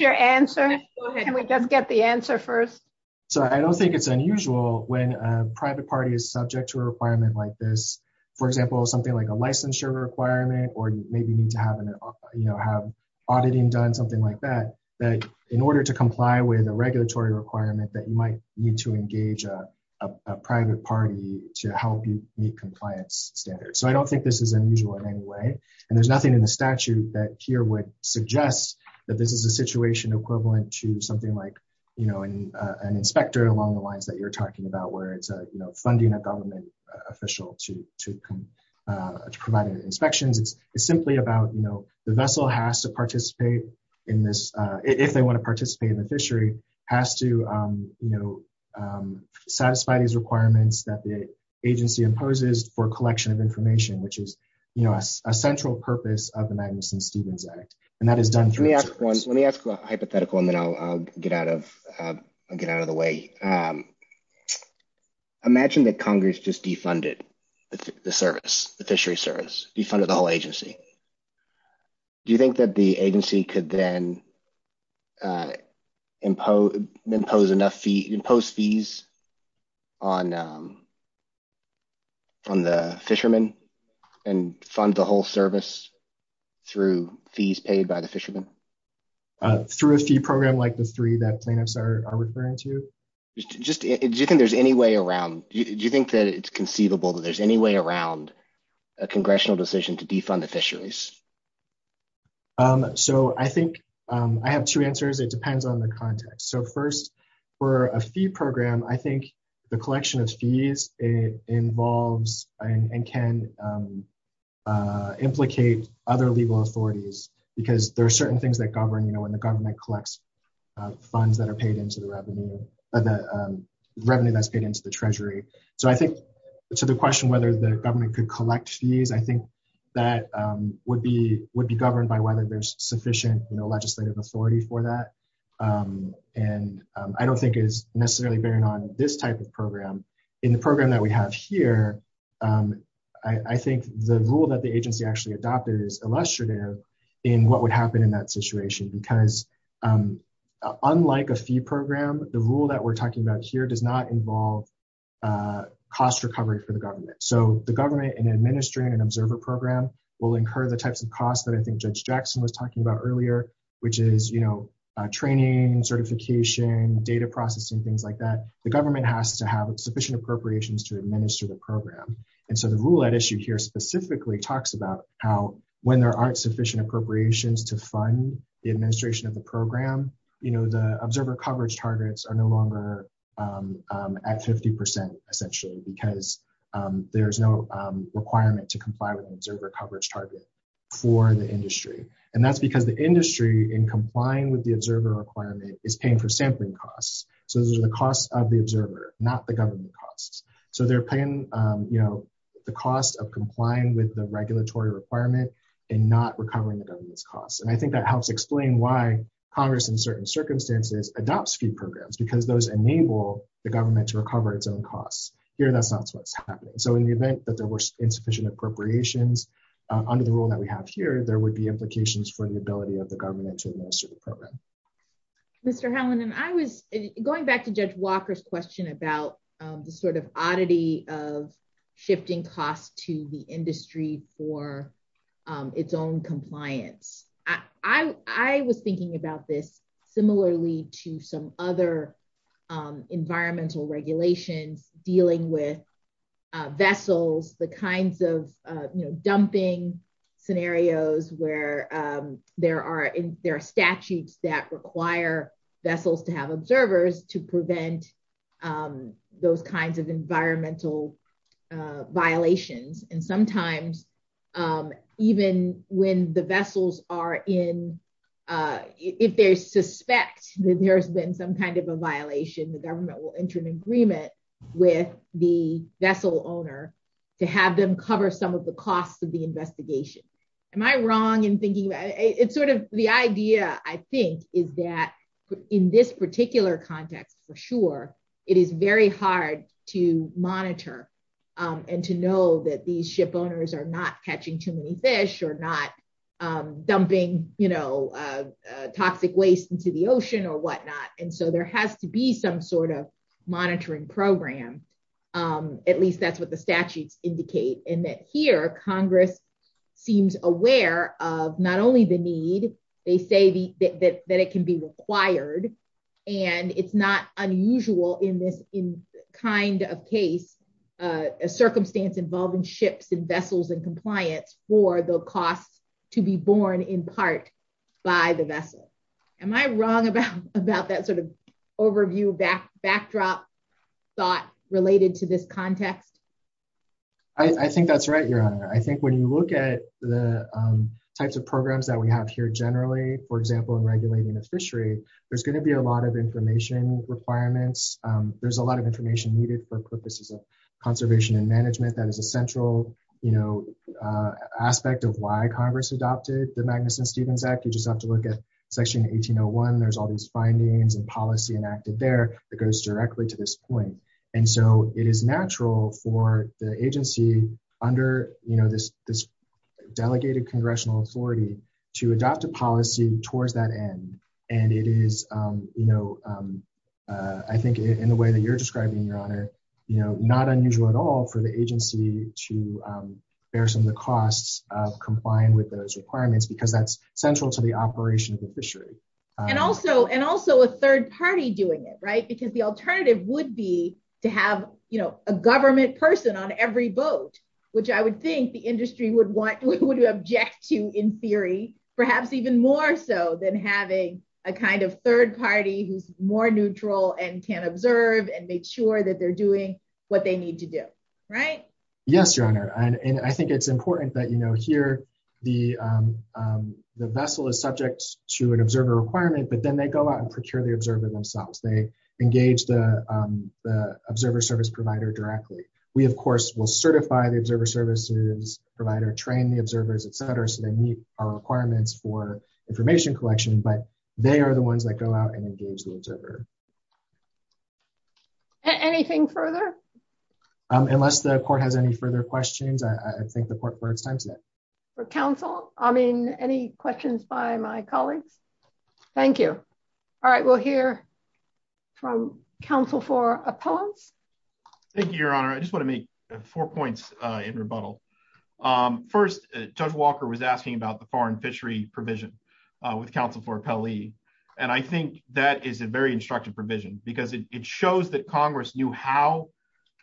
your answer. Can we just get the answer first? So I don't think it's unusual when a private party is subject to a requirement like this, for example, something like a licensure requirement, or you maybe need to have an, you know, have auditing done, something like that, that in order to comply with a regulatory requirement that you might need to engage a private party to help you meet compliance standards. So I don't think this is unusual in any way. And there's nothing in the statute that here would suggest that this is a situation equivalent to something like, you know, an inspector along the lines that you're talking about, where it's, you know, funding a government official to provide inspections, it's simply about, you know, the vessel has to participate in this, if they want to participate in the fishery, has to, you know, satisfy these requirements that the agency imposes for collection of information, which is, you know, a central purpose of the Magnuson-Stevens Act. And that is done through... Let me ask one hypothetical, and then I'll get out of the way. Imagine that Congress just defunded the service, the fishery service, defunded the whole agency. Do you think that the agency could then impose enough fee, impose fees on the fishermen and fund the whole service through fees paid by the fishermen? Through a fee program like the three that plaintiffs are referring to? Just, do you think there's any way around, do you think that it's conceivable that there's any way around a congressional decision to defund the fisheries? So I think I have two answers. It depends on the context. So first, for a fee program, I think the collection of fees involves and can implicate other legal authorities, because there are certain things that govern, you know, when the government collects funds that are paid into the revenue, the revenue that's paid into the treasury. So I think to the question whether the government could collect fees, I think that would be governed by whether there's sufficient, you know, legislative authority for that. And I don't think it's necessarily bearing on this type of program. In the program that we have here, I think the rule that the agency actually adopted is illustrative in what would happen in that situation. Because unlike a fee program, the rule that we're talking about here does not involve cost recovery for the government. So the government in administering an observer program will incur the types of costs that I think Judge Jackson was talking about earlier, which is, you know, training, certification, data processing, things like that. The government has to have sufficient appropriations to administer the program. And so the rule at issue here specifically talks about how when there aren't sufficient appropriations to fund the administration of the program, you know, the observer coverage targets are no longer at 50%, essentially, because there's no requirement to comply with an observer coverage target for the industry. And that's because the industry in complying with the observer requirement is paying for sampling costs. So those are the costs of the observer, not the government costs. So they're paying, you know, the cost of complying with the regulatory requirement, and not recovering the government's costs. And I think that helps explain why Congress in certain circumstances adopts fee programs, because those enable the government to recover its own costs. Here, that's not what's happening. So in the event that there were insufficient appropriations, under the rule that we have here, there would be implications for the ability of the government to administer the program. Mr. Helland, and I was going back to Judge Walker's question about the sort of oddity of shifting costs to the industry for its own compliance. I was thinking about this similarly to some other environmental regulations dealing with vessels, the kinds of, you know, dumping scenarios where there are statutes that require vessels to have observers to prevent those kinds of environmental violations. And sometimes, even when the vessels are in, if they suspect that there's been some kind of a violation, the government will enter an agreement with the vessel owner to have them cover some of the costs of the investigation. Am I wrong in thinking about it? It's sort of the idea, I think, is that in this particular context, for sure, it is very hard to monitor and to know that these ship owners are not catching too many fish or not dumping, you know, toxic waste into the ocean or whatnot. And so there has to be some sort of monitoring program. At least that's what the statutes indicate. And that here, Congress seems aware of not only the need, they say that it can be required. And it's not unusual in this kind of case, a circumstance involving ships and vessels and compliance for the costs to be borne in part by the vessel. Am I wrong about that sort of backdrop thought related to this context? I think that's right, Your Honor. I think when you look at the types of programs that we have here generally, for example, in regulating the fishery, there's going to be a lot of information requirements. There's a lot of information needed for purposes of conservation and management. That is a central, you know, aspect of why Congress adopted the Magnuson-Stevens Act. You just have to look at Section 1801. There's all these findings and policy enacted there that goes directly to this point. And so it is natural for the agency under, you know, this delegated congressional authority to adopt a policy towards that end. And it is, you know, I think in the way that you're describing, Your Honor, you know, not unusual at all for the agency to bear some of the costs of complying with those requirements, because that's central to the operation of the fishery. And also a third party doing it, right? Because the alternative would be to have, you know, a government person on every boat, which I would think the industry would want, would object to in theory, perhaps even more so than having a kind of third party who's more neutral and can observe and make sure that they're doing what they need to do, right? Yes, Your Honor. And I think it's important that, here, the vessel is subject to an observer requirement, but then they go out and procure the observer themselves. They engage the observer service provider directly. We, of course, will certify the observer services provider, train the observers, et cetera, so they meet our requirements for information collection, but they are the ones that go out and engage the observer. Anything further? Unless the court has any further questions, I think the court is time to end. For counsel, I mean, any questions by my colleagues? Thank you. All right, we'll hear from counsel for appellants. Thank you, Your Honor. I just want to make four points in rebuttal. First, Judge Walker was asking about the foreign fishery provision with counsel for appellee. And I think that is a very instructive provision, because it shows that Congress knew how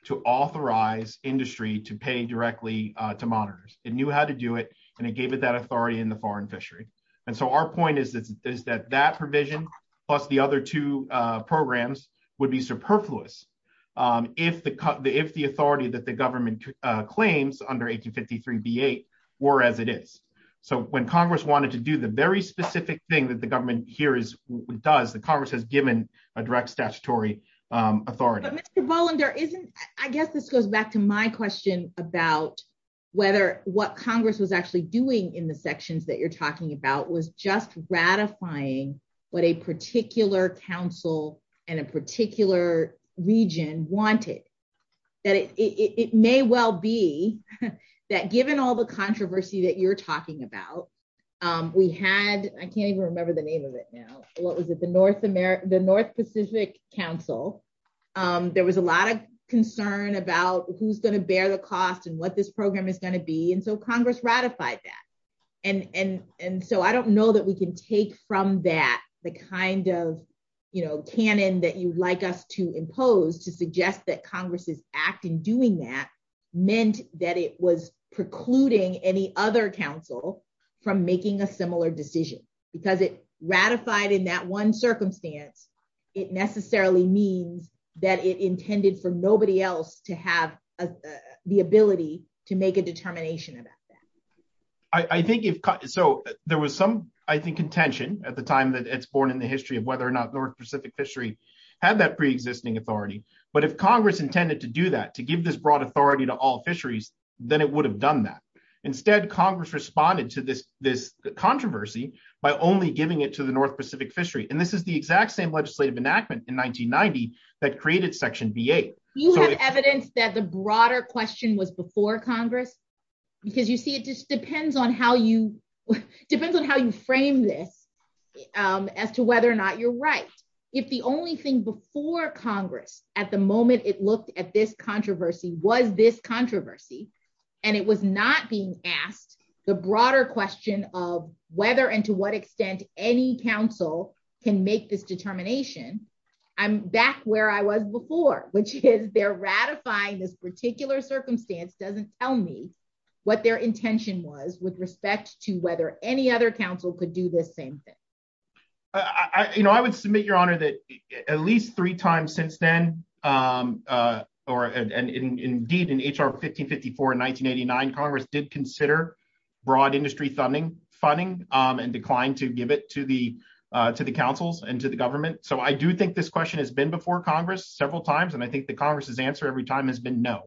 to authorize industry to pay directly to monitors. It knew how to do it, and it gave it that authority in the foreign fishery. And so our point is that that provision, plus the other two programs, would be superfluous if the authority that the government claims under 1853b8 were as it is. So when Congress wanted to do the very specific thing that the government here does, the Congress has given a direct statutory authority. But Mr. Bolander, I guess this goes back to my question about whether what Congress was actually doing in the sections that you're talking about was just ratifying what a particular council and a particular region wanted. That it may well be that given all the controversy that you're talking about, we had, I can't even remember the name of it now. What was it? The North Pacific Council. There was a lot of concern about who's going to bear the cost and what this program is going to be. And so Congress ratified that. And so I don't know that we can take from that the kind of, you know, canon that you'd like us to impose to suggest that Congress's act in doing that meant that it was precluding any other council from making a similar decision. Because it ratified in that one circumstance, it necessarily means that it intended for nobody else to have the ability to make a determination about that. I think if, so there was some, I think, contention at the time that it's born in the history of whether or not North Pacific Fishery had that pre-existing authority. But if Congress intended to do that, to give this broad authority to all fisheries, then it would have done that. Instead, Congress responded to this controversy by only giving it to the North Pacific Fishery. And this is the exact same legislative enactment in 1990 that created Section V.A. You have evidence that the broader question was before Congress? Because you see, it just depends on how you, depends on how you frame this as to whether or not you're right. If the only thing before Congress at the moment it looked at this controversy was this controversy, and it was not being asked the broader question of whether and to what extent any council can make this determination, I'm back where I was before, which is they're ratifying this particular circumstance doesn't tell me what their intention was with respect to whether any other council could do this same thing. I, you know, I would submit, Your Honor, that at least three times since then, or indeed in H.R. 1554 in 1989, Congress did consider broad industry funding and declined to give it to the councils and to the government. So I do think this question has been before Congress several times, and I think that Congress's answer every time has been no.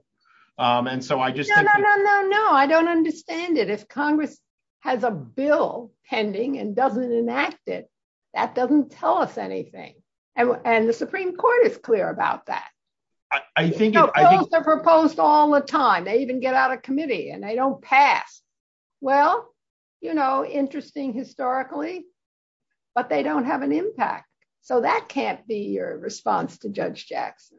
And so I just- No, no, no, no, no. I don't understand it. If Congress has a bill pending and doesn't enact it, that doesn't tell us anything. And the Supreme Court is clear about that. I think- You know, bills are proposed all the time. They even get out of committee, and they don't pass. Well, you know, interesting historically, but they don't have an impact. So that can't be your response to Judge Jackson.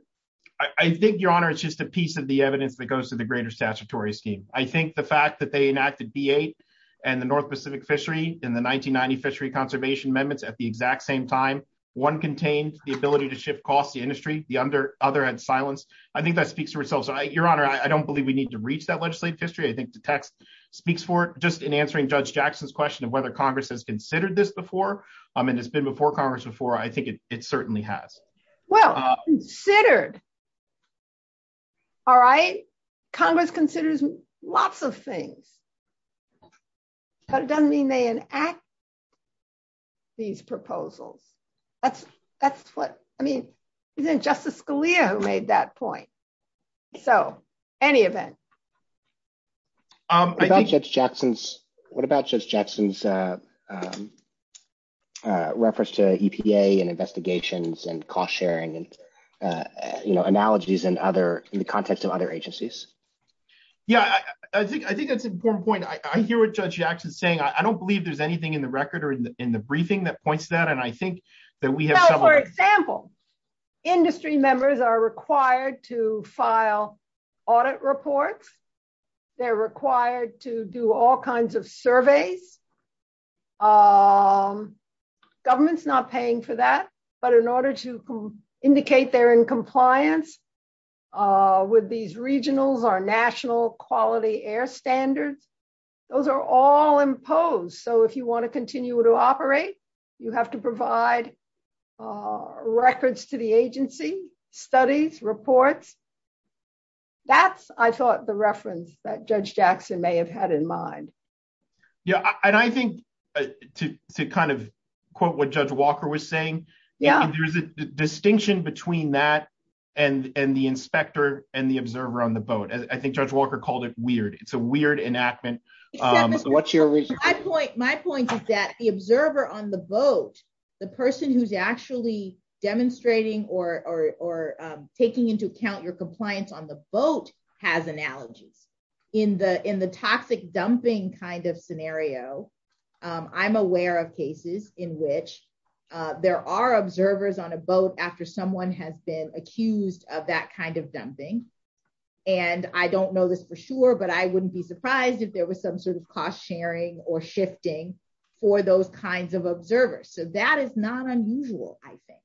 I think, Your Honor, it's just a piece of the evidence that goes to the greater statutory scheme. I think the fact that they enacted B8 and the North Pacific Fishery in the 1990 Fishery Conservation Amendments at the exact same time, one contained the ability to shift costs to industry, the other had silence, I think that speaks for itself. So, Your Honor, I don't believe we need to reach that legislative history. I think the text speaks for it. Just in answering Judge Jackson's question of whether Congress has considered this before, and it's been before Congress before, I think it certainly has. Well, considered. All right. Congress considers lots of things, but it doesn't mean they enact these proposals. That's what, I mean, isn't it Justice Scalia who made that point? So, any event. What about Judge Jackson's, what about Judge Jackson's reference to EPA and investigations and cost sharing and, you know, analogies in other, in the context of other agencies? Yeah, I think that's an important point. I hear what Judge Jackson is saying. I don't believe there's anything in the record or in the briefing that points to that. And I think that we have several. Now, for example, industry members are required to file audit reports. They're required to do all kinds of surveys. Government's not paying for that. But in order to indicate they're in compliance with these regionals, our national quality air standards, those are all imposed. So, you want to continue to operate, you have to provide records to the agency, studies, reports. That's, I thought, the reference that Judge Jackson may have had in mind. Yeah. And I think to kind of quote what Judge Walker was saying, there's a distinction between that and the inspector and the observer on the boat. I think Judge Walker called it weird. It's that the observer on the boat, the person who's actually demonstrating or taking into account your compliance on the boat has analogies. In the toxic dumping kind of scenario, I'm aware of cases in which there are observers on a boat after someone has been accused of that kind of dumping. And I don't know this for sure, but I wouldn't be surprised if there was some sort or shifting for those kinds of observers. So, that is not unusual, I think.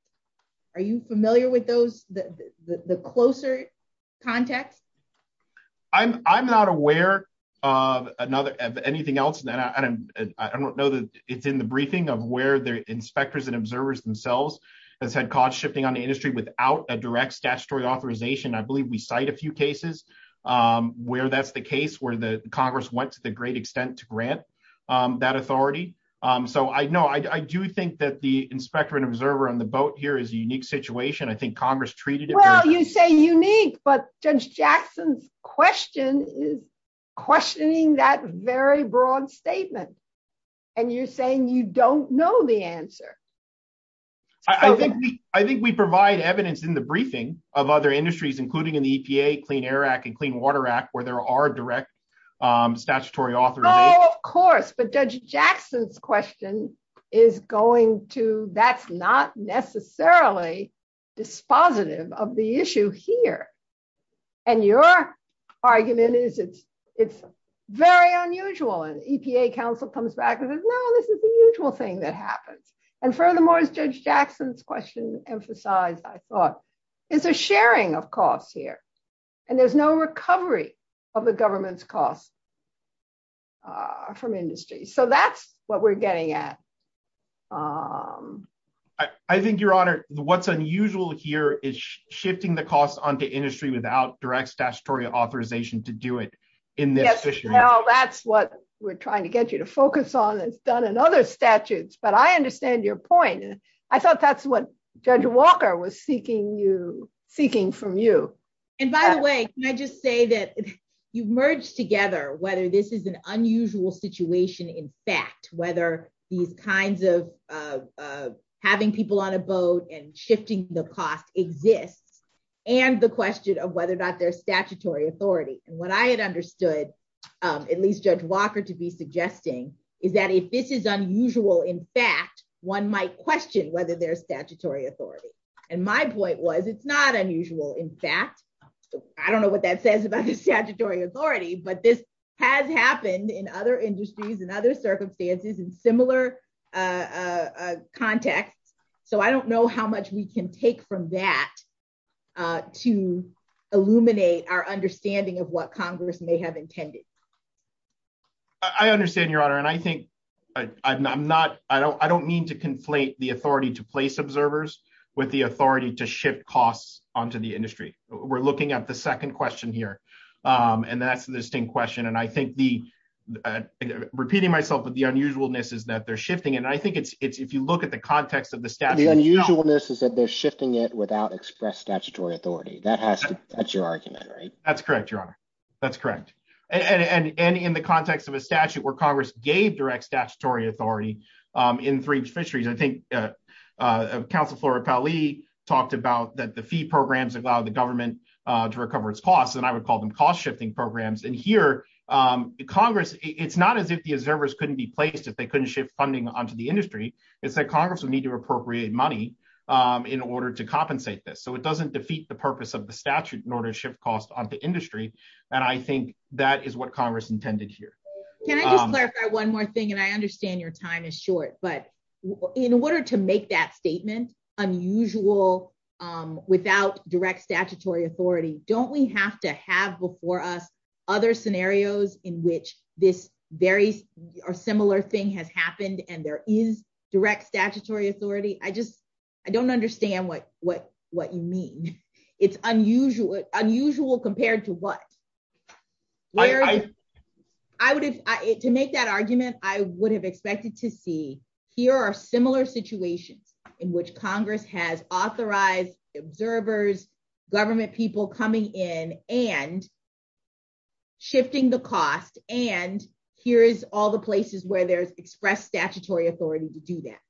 Are you familiar with the closer context? I'm not aware of anything else. I don't know that it's in the briefing of where the inspectors and observers themselves have said cost shifting on the industry without a direct statutory authorization. I believe we cite a few cases where that's the case, where the Congress went to the great extent to grant that authority. So, no, I do think that the inspector and observer on the boat here is a unique situation. I think Congress treated it- Well, you say unique, but Judge Jackson's question is questioning that very broad statement. And you're saying you don't know the answer. I think we provide evidence in the briefing of other industries, including in the EPA, Clean Air Act, and Clean Water Act, where there are direct statutory authorization. Oh, of course. But Judge Jackson's question is going to- that's not necessarily dispositive of the issue here. And your argument is it's very unusual. And EPA counsel comes back and says, no, this is the usual thing that happens. And furthermore, as Judge Jackson's question emphasized, I thought, is a sharing of costs here. And there's no recovery of the government's costs from industry. So that's what we're getting at. I think, Your Honor, what's unusual here is shifting the costs onto industry without direct statutory authorization to do it in this issue. Yes, well, that's what we're trying to get you to focus on. It's done in other statutes. But I understand your point. I thought that's what Judge Walker was seeking from you. And by the way, can I just say that you've merged together whether this is an unusual situation, in fact, whether these kinds of having people on a boat and shifting the cost exists, and the question of whether or not there's statutory authority. And what I had understood, at least Judge Walker to be suggesting, is that if this is unusual, in fact, one might question whether there's statutory authority. And my point was, it's not unusual. In fact, I don't know what that says about the statutory authority, but this has happened in other industries and other circumstances in similar contexts. So I don't know how much we can take from that to illuminate our understanding of what Congress may have intended. I understand, Your Honor, and I think I'm not, I don't mean to conflate the authority to place observers with the authority to shift costs onto the industry. We're looking at the second question here, and that's the distinct question. And I think the, repeating myself, but the unusualness is that they're shifting. And I think it's if you look at the context of the statute. The unusualness is that they're shifting it without express statutory authority. That has to, that's your argument, right? That's correct, Your Honor. That's correct. And it's not unusual. And in the context of a statute where Congress gave direct statutory authority in three fisheries, I think Council Flora Powell Lee talked about that the fee programs allow the government to recover its costs, and I would call them cost-shifting programs. And here, Congress, it's not as if the observers couldn't be placed, if they couldn't shift funding onto the industry, it's that Congress would need to appropriate money in order to compensate this. So it doesn't defeat the purpose of the statute in order to shift costs onto industry. And I think that is Congress intended here. Can I just clarify one more thing, and I understand your time is short, but in order to make that statement unusual without direct statutory authority, don't we have to have before us other scenarios in which this very similar thing has happened and there is direct statutory authority? I just, I don't understand what you mean. It's unusual compared to what? I would have, to make that argument, I would have expected to see here are similar situations in which Congress has authorized observers, government people coming in and shifting the cost. And here is all the places where there's expressed statutory authority to do that.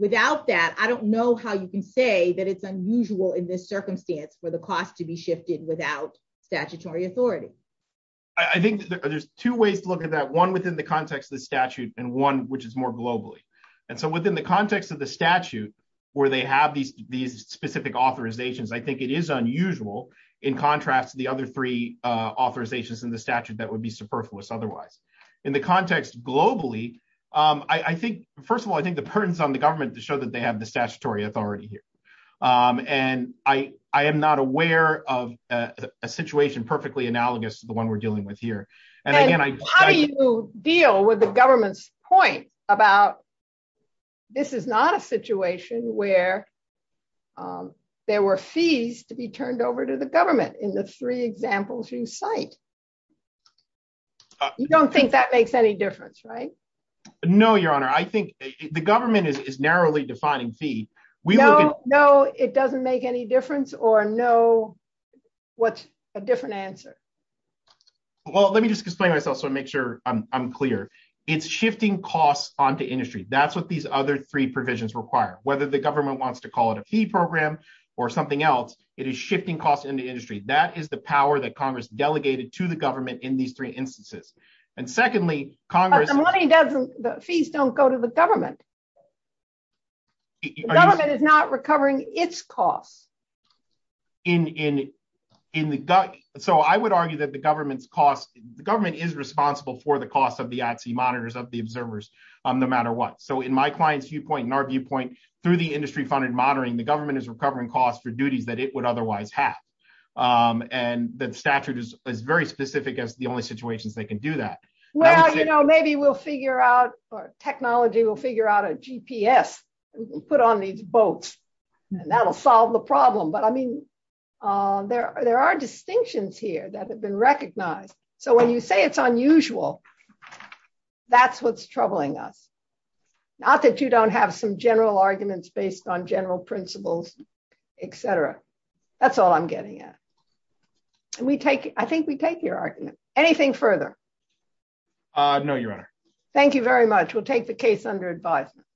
Without that, I don't know how you can say that it's unusual in this circumstance for costs to be shifted without statutory authority. I think there's two ways to look at that, one within the context of the statute and one which is more globally. And so within the context of the statute where they have these specific authorizations, I think it is unusual in contrast to the other three authorizations in the statute that would be superfluous otherwise. In the context globally, I think, first of all, I think the pertinence on the government to show they have the statutory authority here. And I am not aware of a situation perfectly analogous to the one we're dealing with here. And how do you deal with the government's point about this is not a situation where there were fees to be turned over to the government in the three examples you cite? You don't think that makes any difference, right? No, your honor. I think the government is finding fee. No, it doesn't make any difference or no. What's a different answer? Well, let me just explain myself so I make sure I'm clear. It's shifting costs onto industry. That's what these other three provisions require. Whether the government wants to call it a fee program or something else, it is shifting costs in the industry. That is the power that Congress delegated to the government in these three instances. And secondly, the fees don't go to government. Government is not recovering its costs. In the gut. So I would argue that the government's cost, the government is responsible for the cost of the IT monitors, of the observers, no matter what. So in my client's viewpoint, in our viewpoint, through the industry funded monitoring, the government is recovering costs for duties that it would otherwise have. And the statute is very specific as the only situations they can do that. Well, you know, maybe we'll figure out or technology will figure out a GPS, put on these boats, and that'll solve the problem. But I mean, there are distinctions here that have been recognized. So when you say it's unusual, that's what's troubling us. Not that you don't have some general arguments based on general principles, etc. That's all I'm getting at. We take I think we take your argument. Anything further? No, Your Honor. Thank you very much. We'll take the case under advisement.